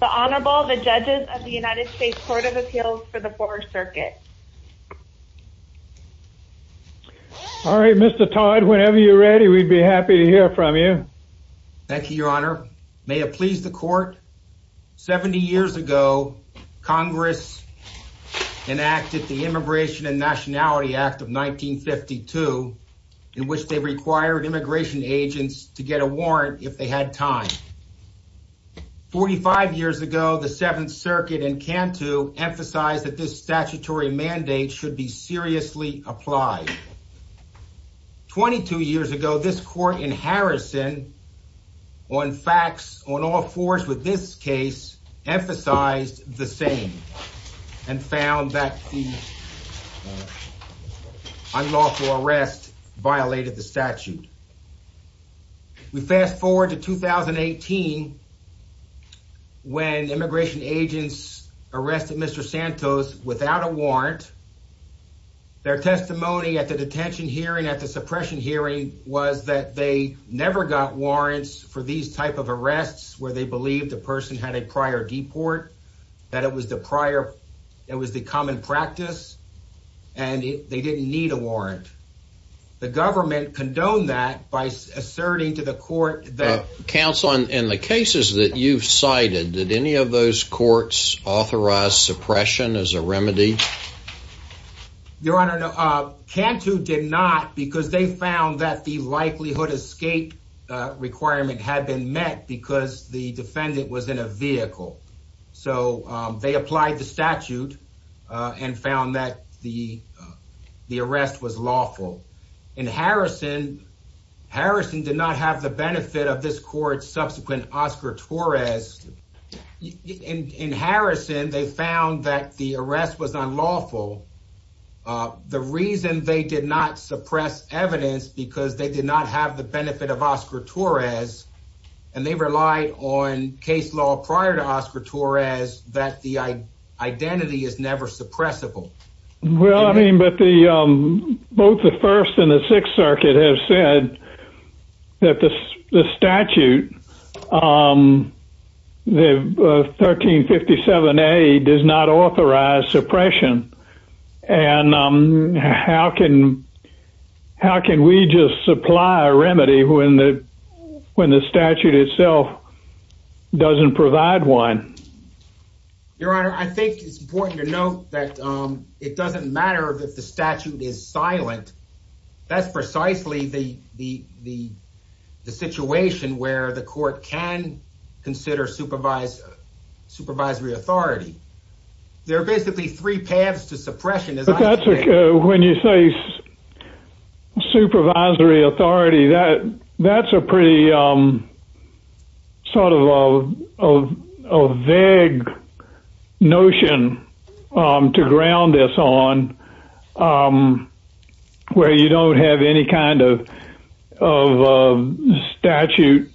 The Honorable, the Judges of the United States Court of Appeals for the 4th Circuit. All right, Mr. Todd, whenever you're ready, we'd be happy to hear from you. Thank you, Your Honor. May it please the Court, 70 years ago, Congress enacted the Immigration and Nationality Act of 1952, in which they required immigration agents to get a warrant if they had time. 45 years ago, the 7th Circuit in Cantu emphasized that this statutory mandate should be seriously applied. 22 years ago, this Court in Harrison, on facts, on all fours with this case, emphasized the same and found that the unlawful arrest violated the statute. We fast forward to 2018, when immigration agents arrested Mr. Santos without a warrant. Their testimony at the detention hearing, at the suppression hearing, was that they never got warrants for these type of arrests, where they believed the person had a prior deport, that it was the prior, it was the common practice, and they didn't need a warrant. The government condoned that by asserting to the Court that... Counsel, in the cases that you've cited, did any of those courts authorize suppression as a remedy? Your Honor, Cantu did not, because they found that the likelihood escape requirement had been met because the defendant was in a vehicle. So they applied the statute and found that the arrest was lawful. In Harrison, Harrison did not have the benefit of this Court's subsequent Oscar Torres. In Harrison, they found that the arrest was unlawful. The reason they did not suppress evidence, because they did not have the benefit of Oscar Torres, and they relied on case law prior to Oscar Torres, that the identity is never suppressible. Well, I mean, but both the First and the Sixth Circuit have said that the statute, the 1357A, does not authorize suppression. And how can we just supply a remedy when the statute itself doesn't provide one? Your Honor, I think it's important to note that it doesn't matter if the statute is silent. That's precisely the situation where the Court can consider supervisory authority. There are basically three paths to suppression. When you say supervisory authority, that's a pretty sort of vague notion to ground this on, where you don't have any kind of statute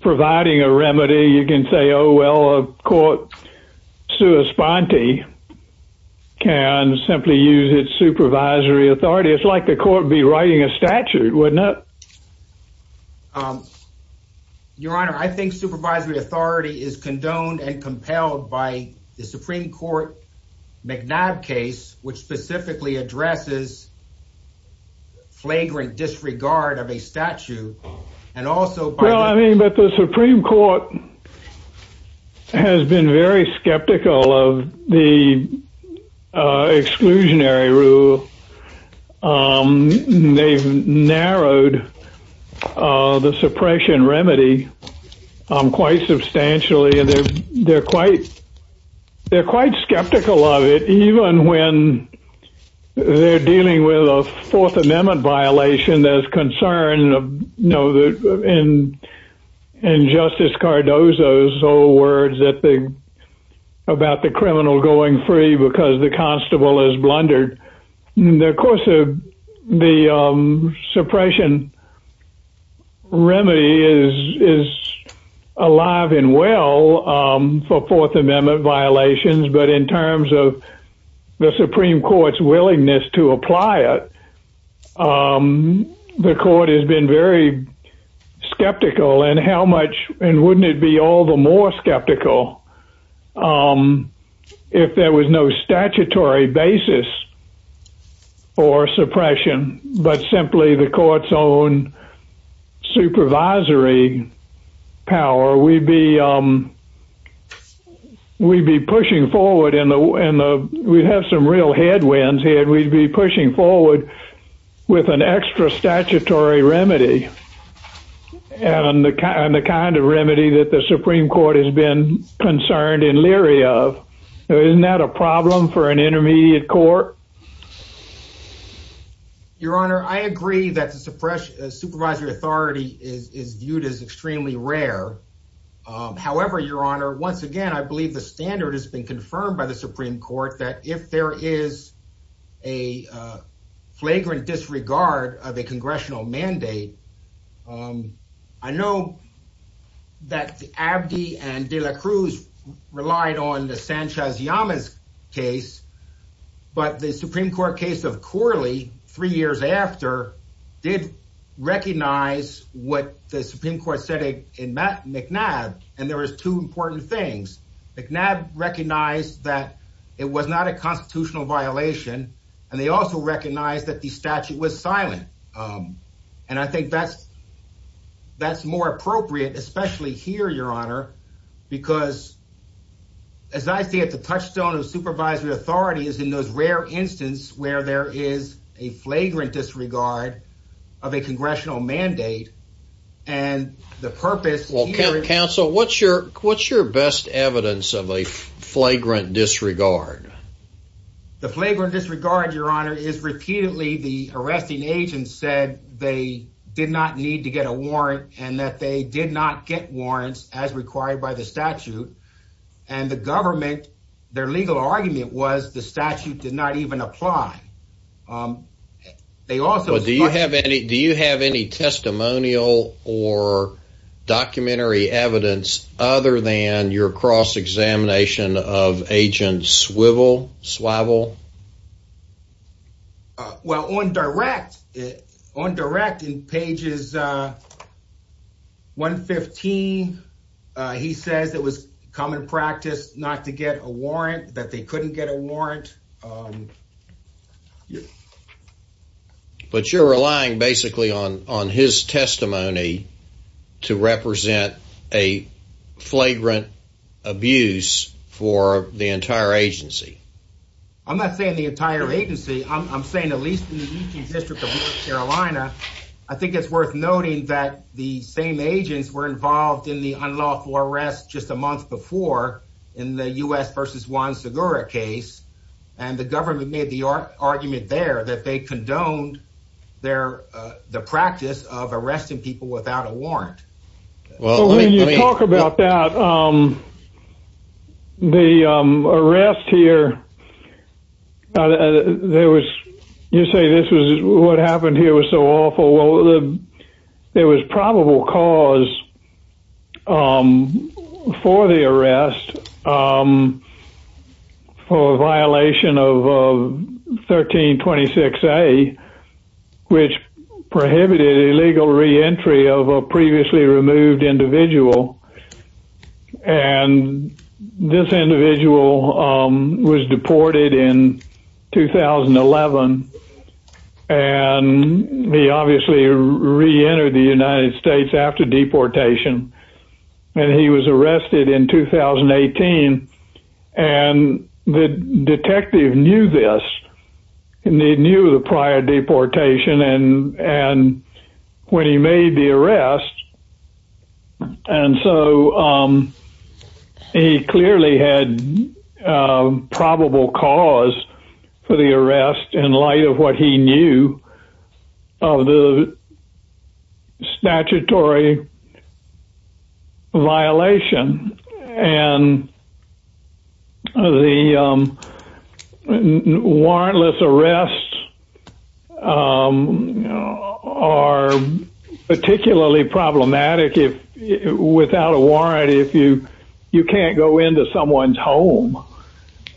providing a remedy. You can say, oh, well, a court sua sponte can simply use its supervisory authority. It's like the Court would be writing a statute, wouldn't it? Your Honor, I think supervisory authority is condoned and compelled by the Supreme Court McNabb case, which specifically addresses flagrant disregard of a statute. Well, I mean, but the Supreme Court has been very skeptical of the exclusionary rule. They've narrowed the suppression remedy quite substantially, and they're quite skeptical of it, even when they're dealing with a Fourth Amendment violation, there's concern in Justice Cardozo's old words about the criminal going free because the constable is blundered. Of course, the suppression remedy is alive and well for Fourth Amendment violations, but in terms of the Supreme Court's willingness to apply it, the Court has been very skeptical, and wouldn't it be all the more skeptical if there was no statutory basis for suppression, but simply the Court's own supervisory power? We'd be pushing forward, and we'd have some real headwinds here, and we'd be pushing forward with an extra statutory remedy, and the kind of remedy that the Supreme Court has been concerned and leery of. Isn't that a problem for an intermediate court? Your Honor, I agree that the supervisory authority is viewed as extremely rare. However, Your Honor, once again, I believe the standard has been confirmed by the Supreme Court that if there is a flagrant disregard of a congressional mandate, I know that Abdi and de la Cruz relied on the Sanchez-Llamas case, but the Supreme Court case of Corley, three years after, did recognize what the Supreme Court said in McNabb, and there was two important things. McNabb recognized that it was not a constitutional violation, and they also recognized that the statute was silent, and I think that's more appropriate, especially here, Your Honor, because as I see it, the touchstone of supervisory authority is in those rare instances where there is a flagrant disregard of a congressional mandate, and the purpose here is... Counsel, what's your best evidence of a flagrant disregard? The flagrant disregard, Your Honor, is repeatedly the arresting agent said they did not need to get a warrant and that they did not get warrants as required by the statute, and the government, their legal argument was the statute did not even apply. They also... Do you have any testimonial or documentary evidence other than your cross-examination of Agent Swivel? Well, on direct, on direct in pages 115, he says it was common practice not to get a warrant, but you're relying basically on his testimony to represent a flagrant abuse for the entire agency. I'm not saying the entire agency. I'm saying at least in the E.T. District of North Carolina. I think it's worth noting that the same agents were involved in the unlawful arrest just a month before in the U.S. versus Juan Segura case, and the government made the argument there that they condoned the practice of arresting people without a warrant. Well, when you talk about that, the arrest here, there was... You say this was... What happened here was so awful. There was probable cause for the arrest for a violation of 1326A, which prohibited illegal reentry of a previously removed individual, and this individual was deported in 2011, and he obviously reentered the United States after deportation, and he was arrested in 2018, and the detective knew this, and he knew the prior deportation, and when he made the arrest, and so he clearly had probable cause for the arrest in light of what he knew of the statutory violation, and the warrantless arrests are particularly problematic without a warrant if you can't go into someone's home,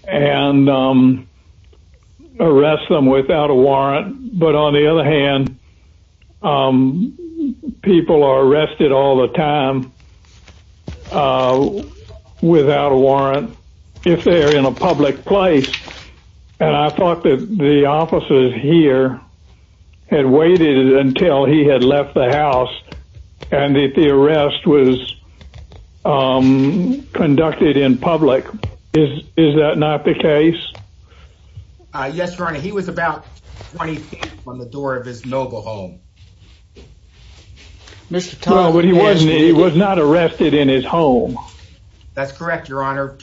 and arrest them without a warrant, but on the other hand, people are arrested all the time without a warrant if they're in a public place, and I thought that the officers here had waited until he had left the house, and that the arrest was conducted in public. Is that not the case? Yes, Your Honor. He was about 20 feet from the door of his noble home. Well, but he was not arrested in his home. That's correct, Your Honor.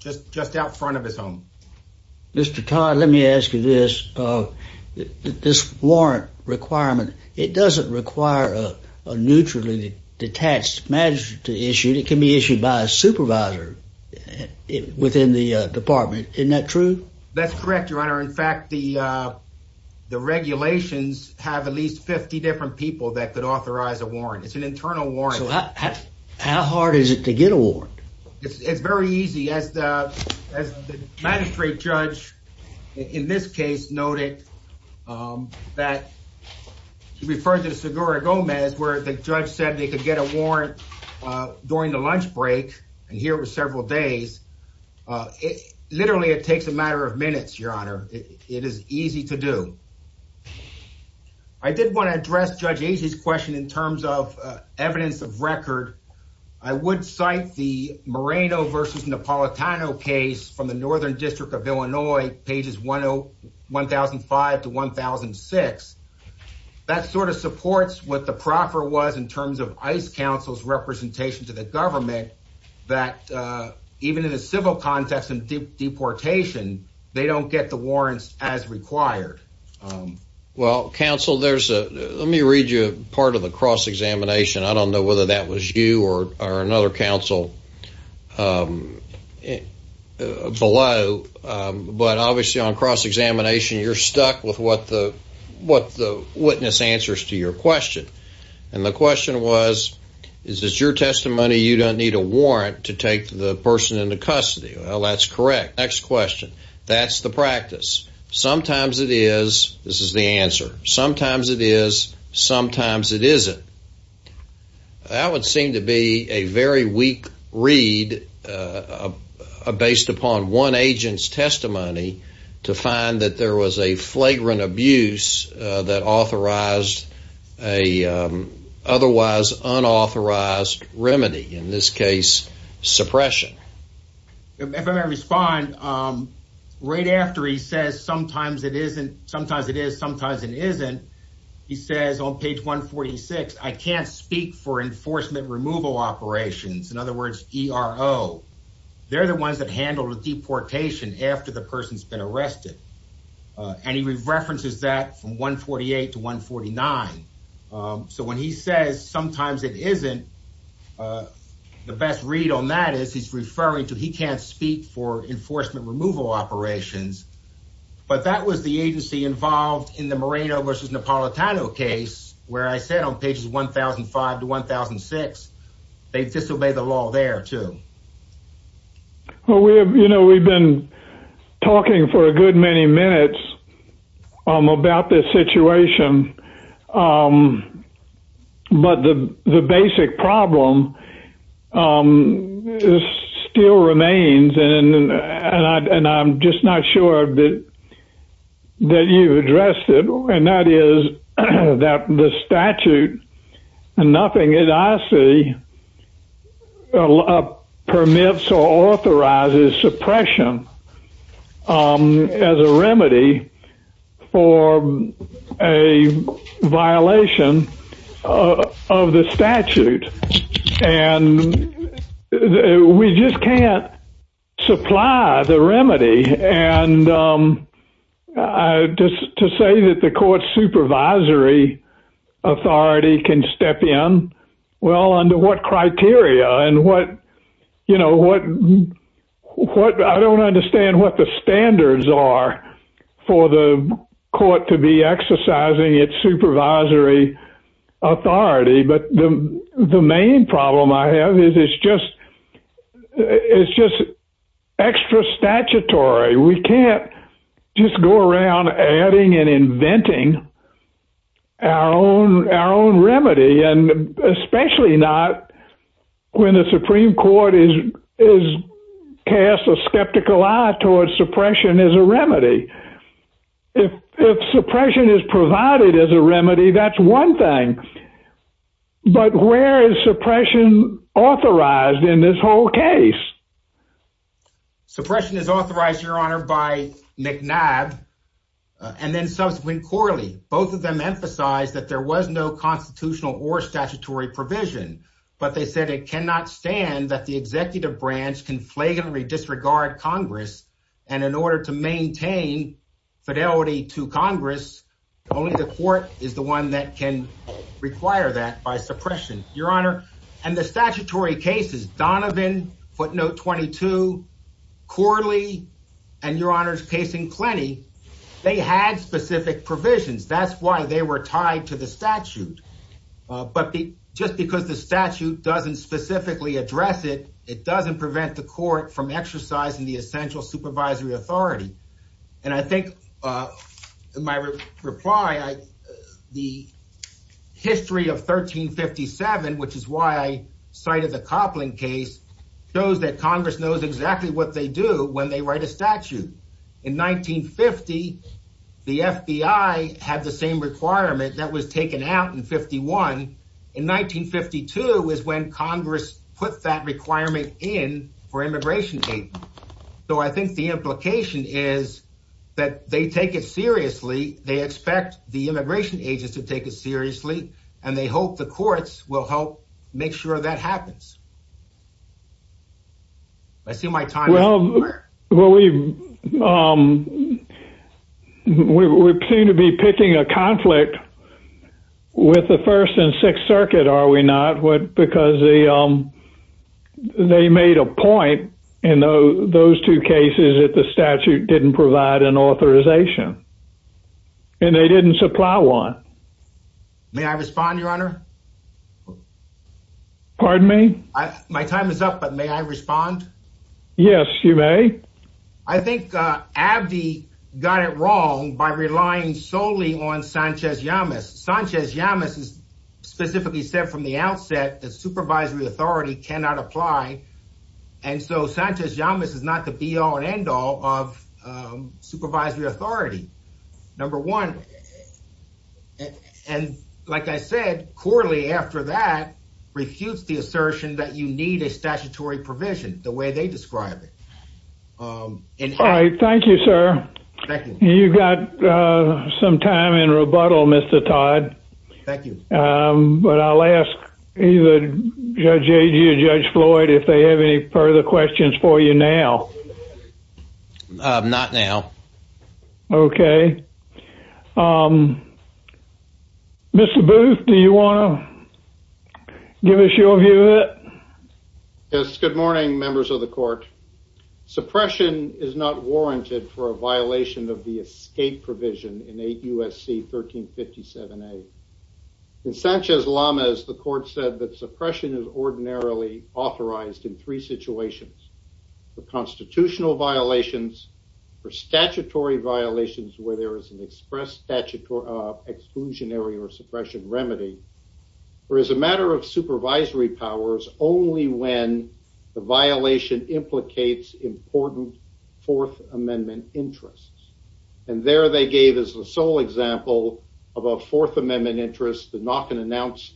Just out front of his home. Mr. Todd, let me ask you this. This warrant requirement, it doesn't require a neutrally detached magistrate to issue it. It can be issued by a supervisor within the department. Isn't that true? That's correct, Your Honor. In fact, the regulations have at least 50 different people that could authorize a warrant. It's an internal warrant. So how hard is it to get a warrant? It's very easy. As the magistrate judge in this case noted that he referred to the Segura Gomez where the judge said they could get a warrant during the lunch break, and here it was several days. Literally, it takes a matter of minutes, Your Honor. It is easy to do. I did want to address Judge Agee's question in terms of evidence of record. I would cite the Moreno v. Napolitano case from the Northern District of Illinois, pages 1005 to 1006. That sort of supports what the proffer was in terms of ICE counsel's representation to the government that even in a civil context and deportation, they don't get the warrants as required. Well, counsel, let me read you part of the cross-examination. I don't know whether that was you or another counsel below, but obviously on cross-examination, you're stuck with what the witness answers to your question. And the question was, is this your testimony you don't need a warrant to take the person into custody? Well, that's correct. Next question. That's the practice. Sometimes it is. This is the answer. Sometimes it is. Sometimes it isn't. That would seem to be a very weak read based upon one agent's testimony to find that there was a flagrant abuse that authorized an otherwise unauthorized remedy, in this case suppression. If I may respond, right after he says, sometimes it is, sometimes it isn't, he says on page 146, I can't speak for enforcement removal operations. In other words, ERO. They're the ones that handled a deportation after the person's been arrested. And he references that from 148 to 149. So when he says sometimes it isn't, the best read on that is he's referring to he can't speak for enforcement removal operations, but that was the agency involved in the Moreno versus Napolitano case, where I said on pages 1005 to 1006, they disobeyed the law there too. Well, we have, you know, we've been talking for a good many minutes about this situation. But the basic problem still remains. And I'm just not sure that you addressed it. And that is that the statute, nothing that I see permits or authorizes suppression as a remedy for a violation of the statute. And we just can't supply the remedy. And just to say that the court supervisory authority can step in. Well, under what criteria and what, you know, what I don't understand what the standards are for the court to be exercising its supervisory authority. But the main problem I have is it's just, it's just extra statutory. We can't just go around adding and inventing our own, our own remedy. And especially not when the Supreme Court is, is cast a skeptical eye towards suppression as a remedy. If suppression is provided as a remedy, that's one thing. But where is suppression authorized in this whole case? Suppression is authorized your honor by McNabb. And then subsequent quarterly, both of them emphasize that there was no constitutional or statutory provision, but they said it cannot stand that the executive branch can flagrantly disregard Congress. And in order to maintain fidelity to Congress, only the court is the one that can require that by suppression, your honor. And the statutory cases Donovan footnote, 22 quarterly and your honors casing plenty. They had specific provisions. That's why they were tied to the statute. But just because the statute doesn't specifically address it, it doesn't prevent the court from exercising the essential supervisory authority. And I think my reply, I, the history of 1357, which is why I cited the Copland case shows that Congress knows exactly what they do when they write a statute in 1950, the FBI had the same requirement that was taken out in 51. In 1952 was when Congress put that requirement in for immigration. So I think the implication is that they take it seriously. They expect the immigration agents to take it seriously and they hope the courts will help make sure that happens. I see my time. Well, we, we, we seem to be picking a conflict with the first and sixth circuit. Are we not? What? Because the, they made a point in those two cases that the statute didn't provide an authorization and they didn't supply one. May I respond to your honor? Pardon me? I, my time is up, but may I respond? Yes, you may. I think Abby got it wrong by relying solely on Sanchez Yamas. Sanchez Yamas is specifically said from the outset that supervisory authority cannot apply. And so Sanchez Yamas is not the be all and end all of supervisory authority. Number one. And like I said, quarterly after that refutes the assertion that you need a statutory provision the way they describe it. All right. Thank you, sir. You got some time in rebuttal, Mr. Todd. Thank you. But I'll ask either Judge A.G. or Judge Floyd if they have any further questions for you now. Not now. Okay. Mr. Booth, do you want to give us your view of it? Yes. Good morning, members of the court. Suppression is not warranted for a violation of the escape provision in eight U.S.C. 1357A. In Sanchez Yamas, the court said that suppression is ordinarily authorized in three situations. The constitutional violations for statutory violations, where there is an express statute of exclusionary or suppression remedy, or as a matter of supervisory powers, is only when the violation implicates important Fourth Amendment interests. And there they gave us the sole example of a Fourth Amendment interest, the knock and announce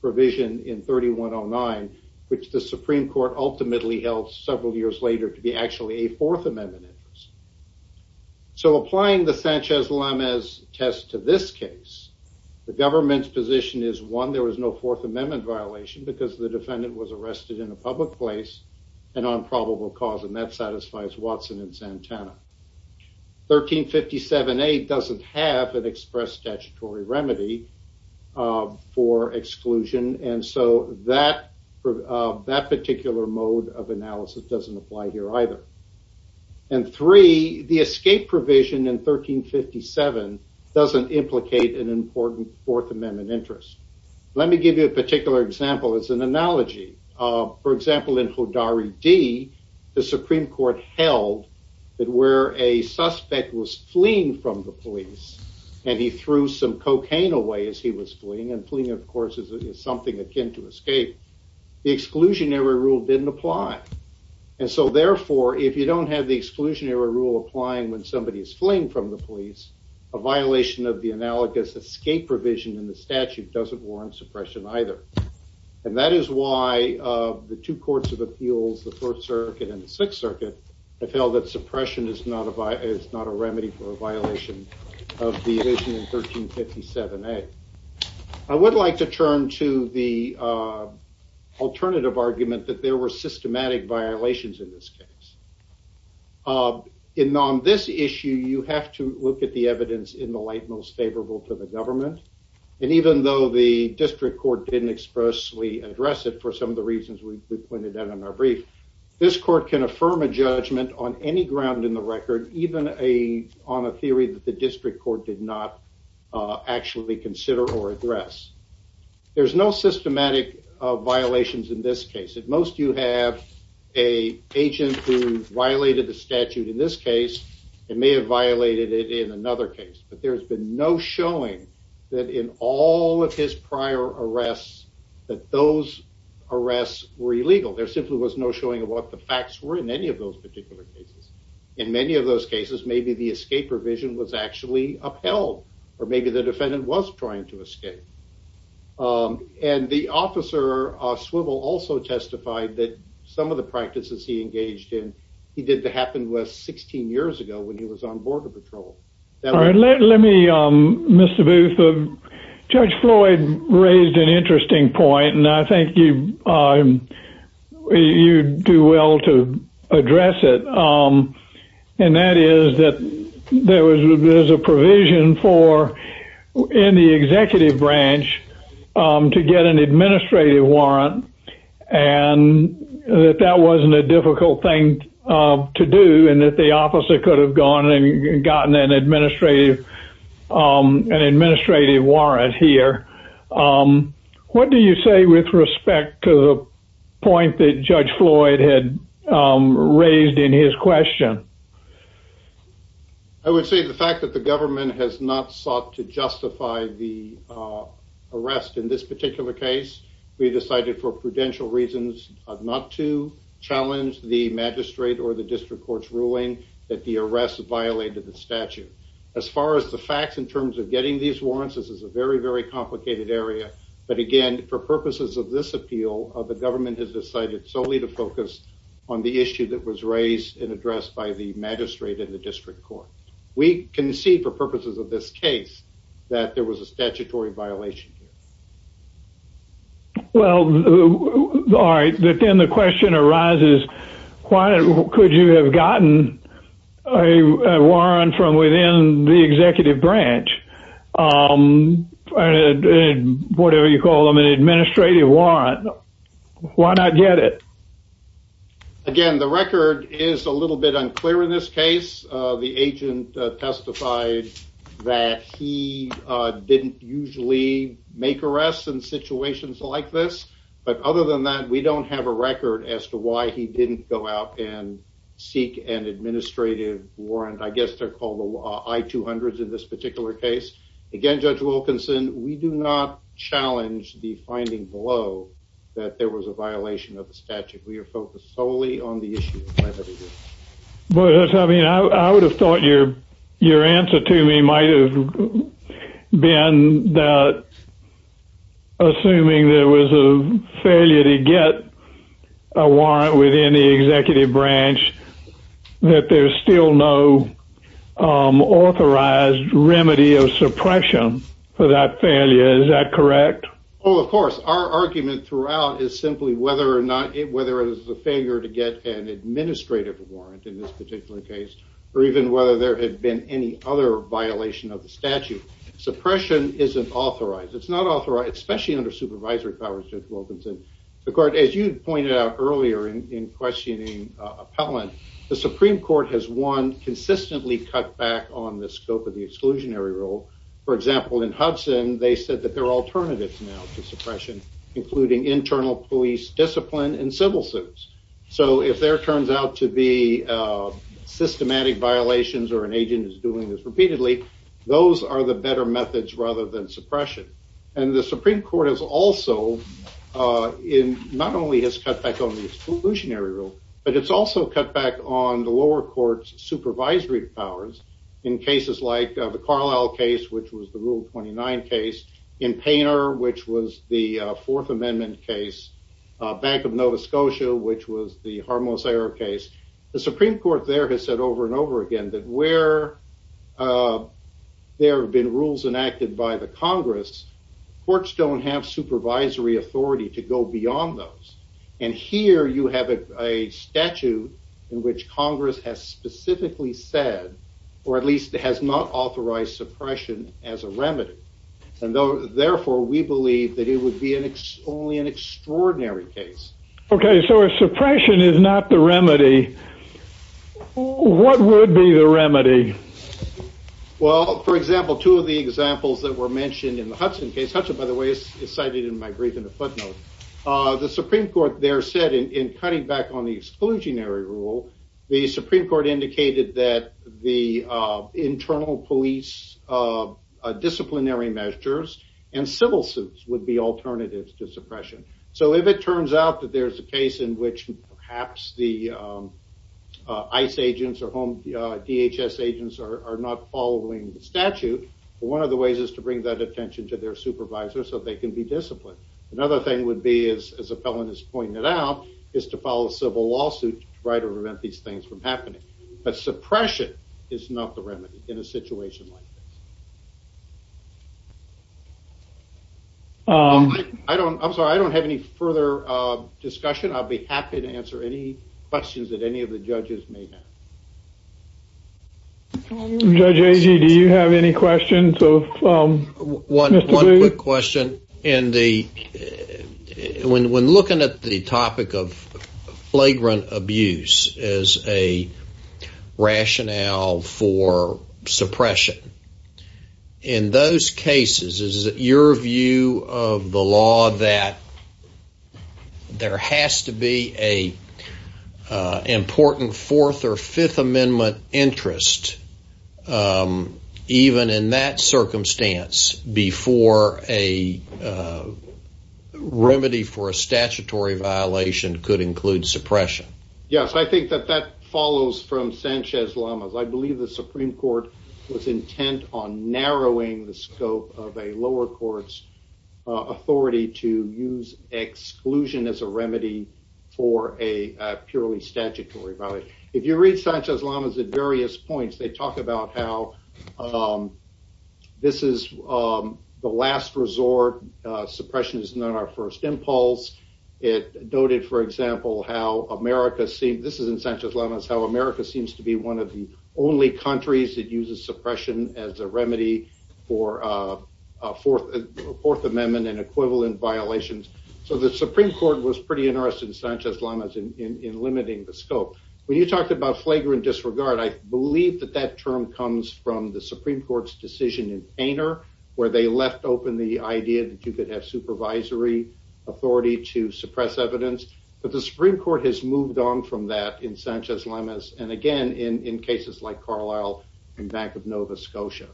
provision in 3109, which the Supreme Court ultimately held several years later to be actually a Fourth Amendment interest. So applying the Sanchez-Yamas test to this case, the government's position is one, there was no Fourth Amendment violation because the defendant was arrested in a public place and on probable cause. And that satisfies Watson and Santana. 1357A doesn't have an express statutory remedy for exclusion. And so that, that particular mode of analysis doesn't apply here either. And three, the escape provision in 1357 doesn't implicate an important Fourth Amendment interest. Let me give you a particular example. It's an analogy. For example, in Hodari D, the Supreme Court held that where a suspect was fleeing from the police and he threw some cocaine away as he was fleeing and fleeing, of course, is something akin to escape. The exclusionary rule didn't apply. And so therefore, if you don't have the exclusionary rule applying when somebody is fleeing from the police, a violation of the analogous escape provision in the statute doesn't warrant suppression either. And that is why the two courts of appeals, the Fourth Circuit and the Sixth Circuit have held that suppression is not a remedy for a violation of the vision in 1357A. I would like to turn to the alternative argument that there were systematic violations in this case. And on this issue, you have to look at the evidence in the light most favorable to the government. And even though the district court didn't expressly address it for some of the reasons we pointed out in our brief, this court can affirm a judgment on any ground in the record, even on a theory that the district court did not actually consider or address. There's no systematic violations in this case. If most you have a agent who violated the statute in this case, it may have violated it in another case, but there's been no showing that in all of his prior arrests, that those arrests were illegal. There simply was no showing of what the facts were in any of those particular cases. In many of those cases, maybe the escape provision was actually upheld or maybe the defendant was trying to escape. And the officer, Swivel, also testified that some of the practices he engaged in, he did to happen with 16 years ago when he was on border patrol. All right. Let, let me, Mr. Booth, Judge Floyd raised an interesting point and I think you, you do well to address it. And that is that there was a provision for, in the executive branch to get an administrative warrant and that that wasn't a difficult thing to do and that the officer could have gone and gotten an administrative, an administrative warrant here. What do you say with respect to the point that Judge Floyd had raised in his question? I would say the fact that the government has not sought to justify the arrest in this particular case, we decided for prudential reasons not to challenge the magistrate or the district court's ruling that the arrest violated the statute. As far as the facts in terms of getting these warrants, this is a very, very complicated area. But again, for purposes of this appeal of the government has decided solely to focus on the issue that was raised and addressed by the magistrate and the district court. We can see for purposes of this case that there was a statutory violation. Well, all right. But then the question arises, why could you have gotten a warrant from within the executive branch? Whatever you call them, an administrative warrant. Why not get it? Again, the record is a little bit unclear in this case. The agent testified that he didn't usually make arrests in situations like this. But other than that, we don't have a record as to why he didn't go out and seek an administrative warrant. I guess they're called the I-200s in this particular case. Again, Judge Wilkinson, we do not challenge the finding below that there was a violation of the statute. We are focused solely on the issue. I would have thought your answer to me might have been that assuming there was a failure to get a warrant within the executive branch that there's still no authorized remedy of suppression for that failure. Is that correct? Oh, of course. Our argument throughout is simply whether it was a failure to get an administrative warrant in this particular case, or even whether there had been any other violation of the statute. Suppression isn't authorized. It's not authorized, especially under supervisory powers, Judge Wilkinson. As you pointed out earlier in questioning appellant, the Supreme Court has one consistently cut back on the scope of the exclusionary rule. For example, in Hudson, they said that there are alternatives now to suppression, including internal police discipline and civil suits. So if there turns out to be systematic violations or an agent is doing this repeatedly, those are the better methods rather than suppression. And the Supreme Court has also, not only has cut back on the exclusionary rule, but it's also cut back on the lower court's supervisory powers in cases like the Carlisle case, which was the rule 29 case in painter, which was the fourth amendment case back of Nova Scotia, which was the harmless error case. The Supreme Court there has said over and over again that where there have been rules enacted by the Congress courts don't have supervisory authority to go beyond those. And here you have a statute in which Congress has specifically said, or at least has not authorized suppression as a remedy. And though, therefore we believe that it would be an ex only an extraordinary case. Okay. So a suppression is not the remedy. What would be the remedy? Well, for example, two of the examples that were mentioned in the Hudson case, Hudson by the way is cited in my brief in the footnote, the Supreme Court there said in, in cutting back on the exclusionary rule, the Supreme Court indicated that the internal police disciplinary measures and civil suits would be alternatives to suppression. So if it turns out that there's a case in which perhaps the ICE agents or home DHS agents are not following the statute, one of the ways is to bring that attention to their supervisor so they can be disciplined. Another thing would be, as a felon is pointing it out is to follow the civil lawsuit to try to prevent these things from happening. But suppression is not the remedy in a situation like this. I don't, I'm sorry. I don't have any further discussion. I'll be happy to answer any questions that any of the judges may have. Do you have any questions? One quick question in the, when, when looking at the topic of flagrant abuse as a rationale for suppression in those cases, is it your view of the law that there has to be a important fourth or fifth circumstance before a remedy for a statutory violation could include suppression? Yes, I think that that follows from Sanchez-Lamas. I believe the Supreme Court was intent on narrowing the scope of a lower court's authority to use exclusion as a remedy for a purely statutory violation. If you read Sanchez-Lamas at various points, they talk about how this is the last resort. Suppression is not our first impulse. It noted, for example, how America seems, this is in Sanchez-Lamas, how America seems to be one of the only countries that uses suppression as a remedy for a fourth amendment and equivalent violations. So the Supreme Court was pretty interested in Sanchez-Lamas in limiting the scope. When you talked about flagrant disregard, I believe that that term comes from the Supreme Court's decision in Painter where they left open the idea that you could have supervisory authority to suppress evidence. But the Supreme Court has moved on from that in Sanchez-Lamas and again, in cases like Carlisle and back of Nova Scotia.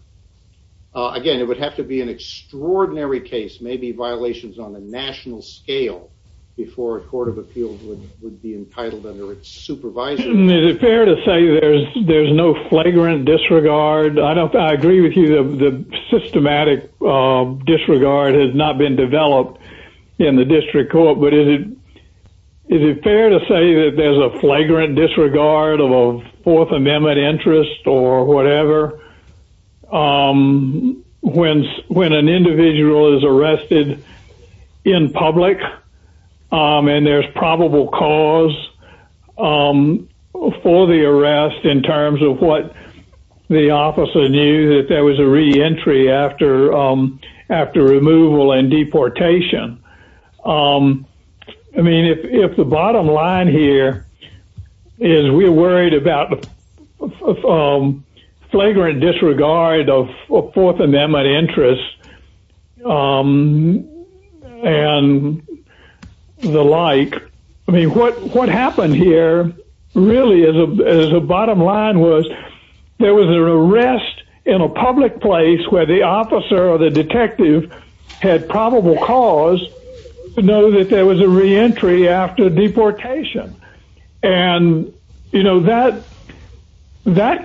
Again, it would have to be an extraordinary case, maybe violations on a national scale before a court of appeals would be entitled under its supervision. Is it fair to say there's no flagrant disregard? I agree with you. The systematic disregard has not been developed in the district court, but is it fair to say that there's a flagrant disregard of a fourth amendment interest or whatever when an individual is arrested in public and there's probable cause for the arrest in terms of what the officer knew that there was a re-entry after removal and deportation? I mean, if the bottom line here is we're worried about the flagrant disregard of a fourth amendment interest and the like, I mean what happened here really as a bottom line was there was an arrest in a public place where the officer or the detective had probable cause to know that there was a re-entry after deportation. And that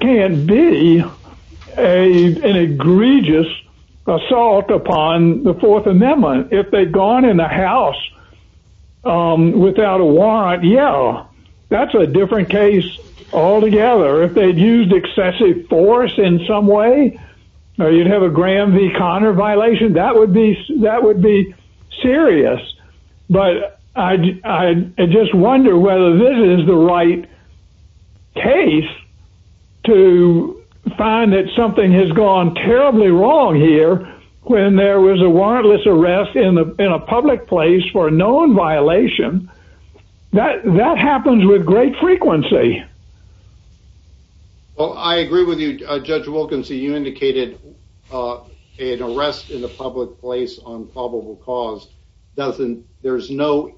can't be an egregious assault upon the fourth amendment. If they'd gone in the house without a warrant, yeah, that's a different case altogether. If they'd used excessive force in some way or you'd have a Graham v. Connor violation, that would be serious. But I just wonder whether this is the right case to find that something has gone terribly wrong here when there was a warrantless arrest in a public place for a known violation. That happens with great frequency. Well, I agree with you, Judge Wilkinson. You indicated an arrest in a public place on probable cause. There's no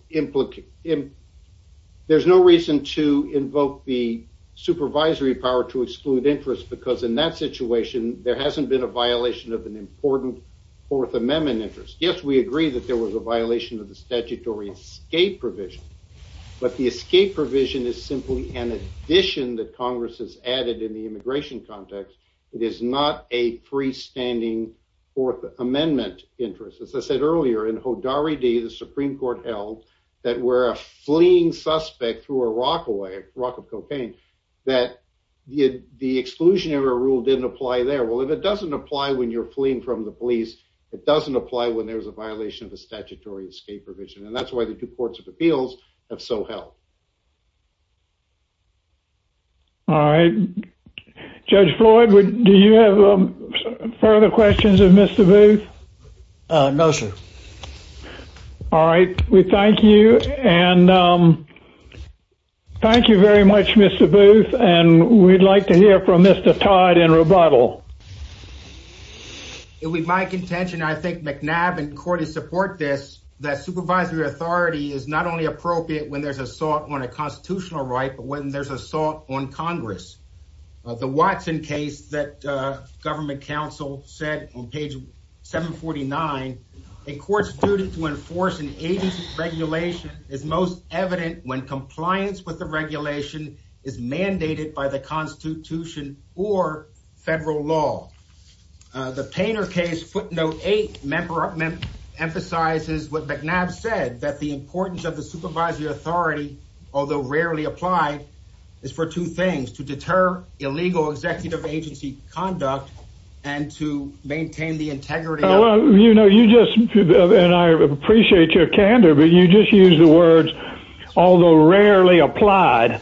reason to invoke the supervisory power to exclude interest because in that situation, there hasn't been a violation of an important fourth amendment interest. Yes, we agree that there was a violation of the statutory escape provision, but the escape provision is simply an addition that Congress has added in the immigration context. It is not a freestanding fourth amendment interest. As I said earlier, in Hodari D, the Supreme Court held that we're a fleeing suspect through a rock away, a rock of cocaine that the exclusionary rule didn't apply there. Well, if it doesn't apply when you're fleeing from the police, it doesn't apply when there's a violation of the statutory escape provision. And that's why the two courts of appeals have so held. All right. Judge Floyd, do you have further questions of Mr. Booth? No, sir. All right. We thank you. And thank you very much, Mr. Booth. And we'd like to hear from Mr. Todd in rebuttal. It would be my contention. I think McNab and court is support this that supervisory authority is not only appropriate when there's assault on a constitutional right, but when there's assault on Congress, the Watson case that government council said on page 749, a court student to enforce an agency regulation is most evident when compliance with the regulation is mandated by the constitution or federal law. The painter case footnote, eight member emphasizes what McNab said that the importance of the supervisory authority, although rarely applied is for two things to deter illegal executive agency conduct and to maintain the integrity. You know, you just, and I appreciate your candor, but you just use the words, although rarely applied.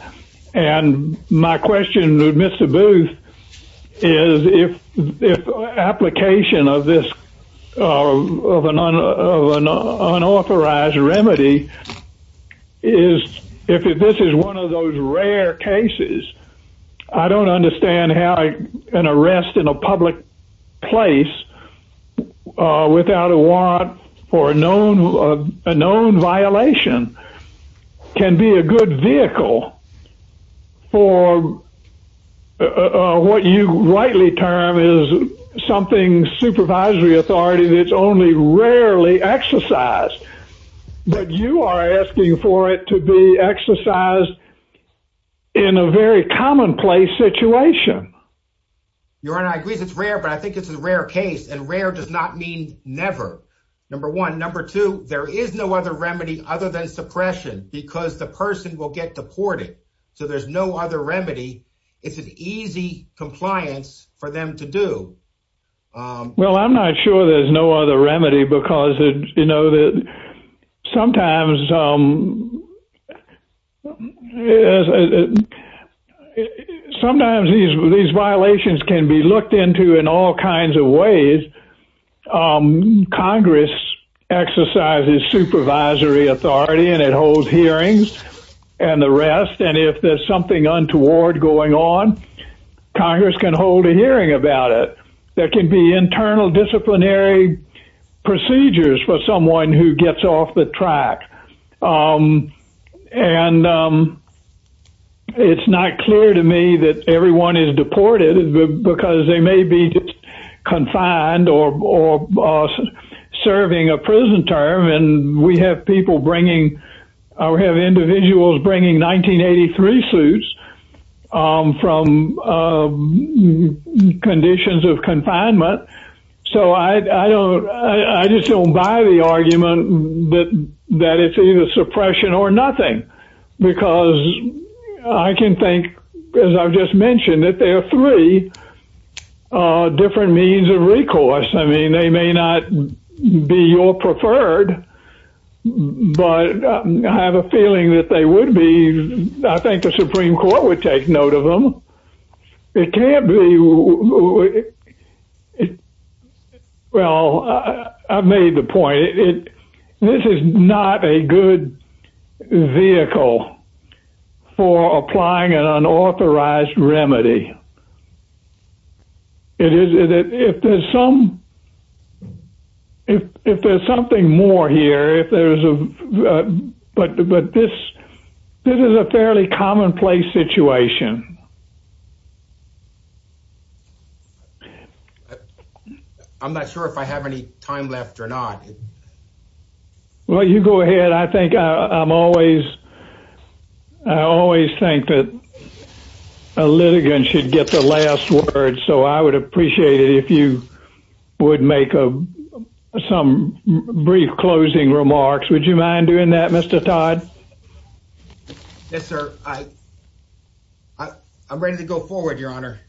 And my question to Mr. Booth is if, if application of this of an unauthorized remedy is, if this is one of those rare cases, I don't understand how an arrest in a public place, uh, without a warrant for a known, a known violation can be a good vehicle for, uh, what you rightly term is something supervisory authority that's only rarely exercised, but you are asking for it to be exercised in a very commonplace situation. Your honor, I agree it's rare, but I think it's a rare case and rare does not mean never. Number one, number two, there is no other remedy other than suppression because the person will get deported. So there's no other remedy. It's an easy compliance for them to do. Um, well, I'm not sure there's no other remedy because you know, that sometimes, um, sometimes these, these violations can be looked into in all kinds of ways. Um, Congress exercises supervisory authority and it holds hearings and the rest. And if there's something untoward going on, Congress can hold a hearing about it. There can be internal disciplinary procedures for someone who gets off the track. Um, and, um, it's not clear to me that everyone is deported because they may be just confined or, or, uh, serving a prison term. And we have people bringing, or have individuals bringing 1983 suits, um, from, um, conditions of confinement. So I, I don't, I just don't buy the argument that, that it's either suppression or nothing because I can think, cause I've just mentioned that there are three, uh, different means of recourse. I mean, they may not be your preferred, but I have a feeling that they would be. I think the Supreme Court would take note of them. It can't be. Oh, well, I made the point. It, this is not a good vehicle for applying an unauthorized remedy. It is if there's some, if, if there's something more here, if there's a, but, but this, this is a fairly commonplace situation. I'm not sure if I have any time left or not. Well, you go ahead. I think I'm always, I always think that a litigant should get the last word. So I would appreciate it if you would make a, some brief closing remarks, would you mind doing that? Mr. Todd? Yes, sir. I, I, I'm ready to go forward. Your honor.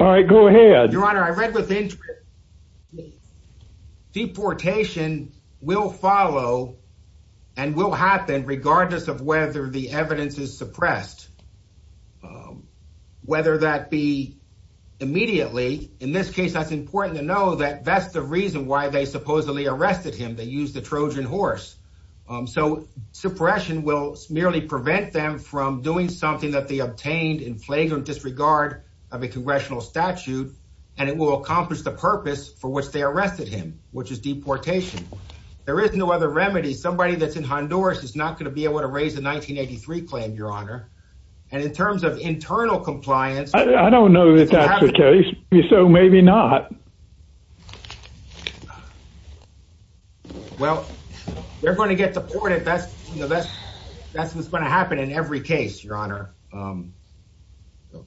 All right, go ahead. Your honor. I read with interest. Deportation will follow and will happen regardless of whether the evidence is suppressed. Whether that be immediately, in this case, that's important to know that that's the reason why they supposedly arrested him. They used the Trojan horse. So suppression will merely prevent them from doing something that they obtained in flagrant disregard of a congressional statute. And it will accomplish the purpose for which they arrested him, which is deportation. There is no other remedy. Somebody that's in Honduras is not going to be able to raise the 1983 claim, your honor. And in terms of internal compliance, I don't know that that's the case. So maybe not. Well, they're going to get deported. That's, you know, that's, that's what's going to happen in every case, your honor.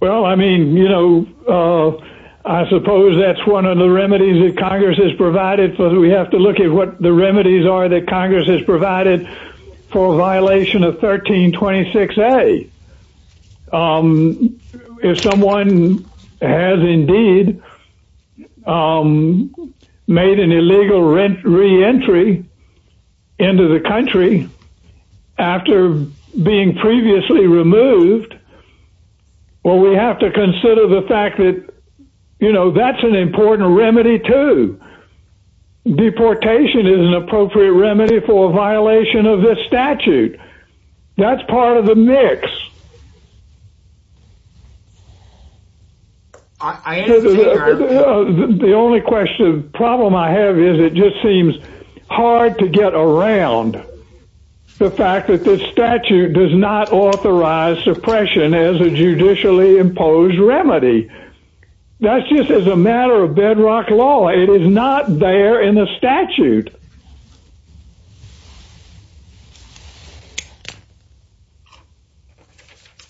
Well, I mean, you know I suppose that's one of the remedies that Congress has provided for. We have to look at what the remedies are that Congress has provided for a violation of 1326. If someone has indeed made an illegal rent re-entry into the country after being previously removed. Well, we have to consider the fact that, you know, that's an important remedy to deportation is an appropriate remedy for a violation of this statute. That's part of the mix. The only question problem I have is it just seems hard to get around the fact that this statute does not authorize suppression as a judicially imposed remedy. That's just as a matter of bedrock law. It is not there in the statute.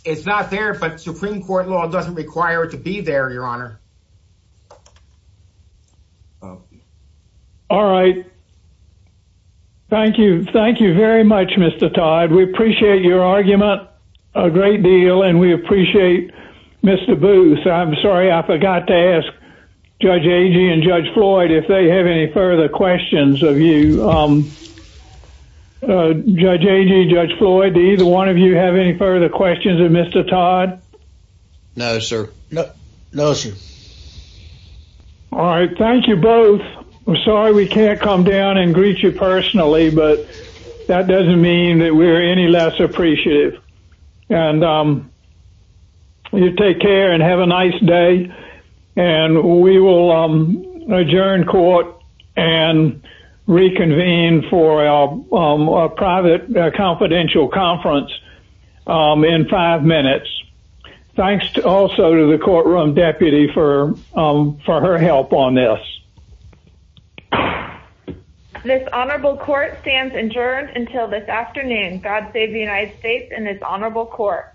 It's not there, but Supreme court law doesn't require it to be there, your honor. All right. Thank you. Thank you very much, Mr. Todd. We appreciate your argument a great deal and we appreciate Mr. Booth. I'm sorry. I forgot to ask Judge Agee and Judge Floyd if they have any further questions of you. Judge Agee, Judge Floyd, do either one of you have any further questions of Mr. Todd? No, sir. No, sir. All right. Thank you both. I'm sorry we can't come down and greet you personally, but that doesn't mean that we're any less appreciative. And you take care and have a nice day. And we will adjourn court and reconvene for our private confidential conference in five minutes. Thanks also to the courtroom deputy for her help on this. This honorable court stands adjourned until this afternoon. God save the United States and it's honorable court.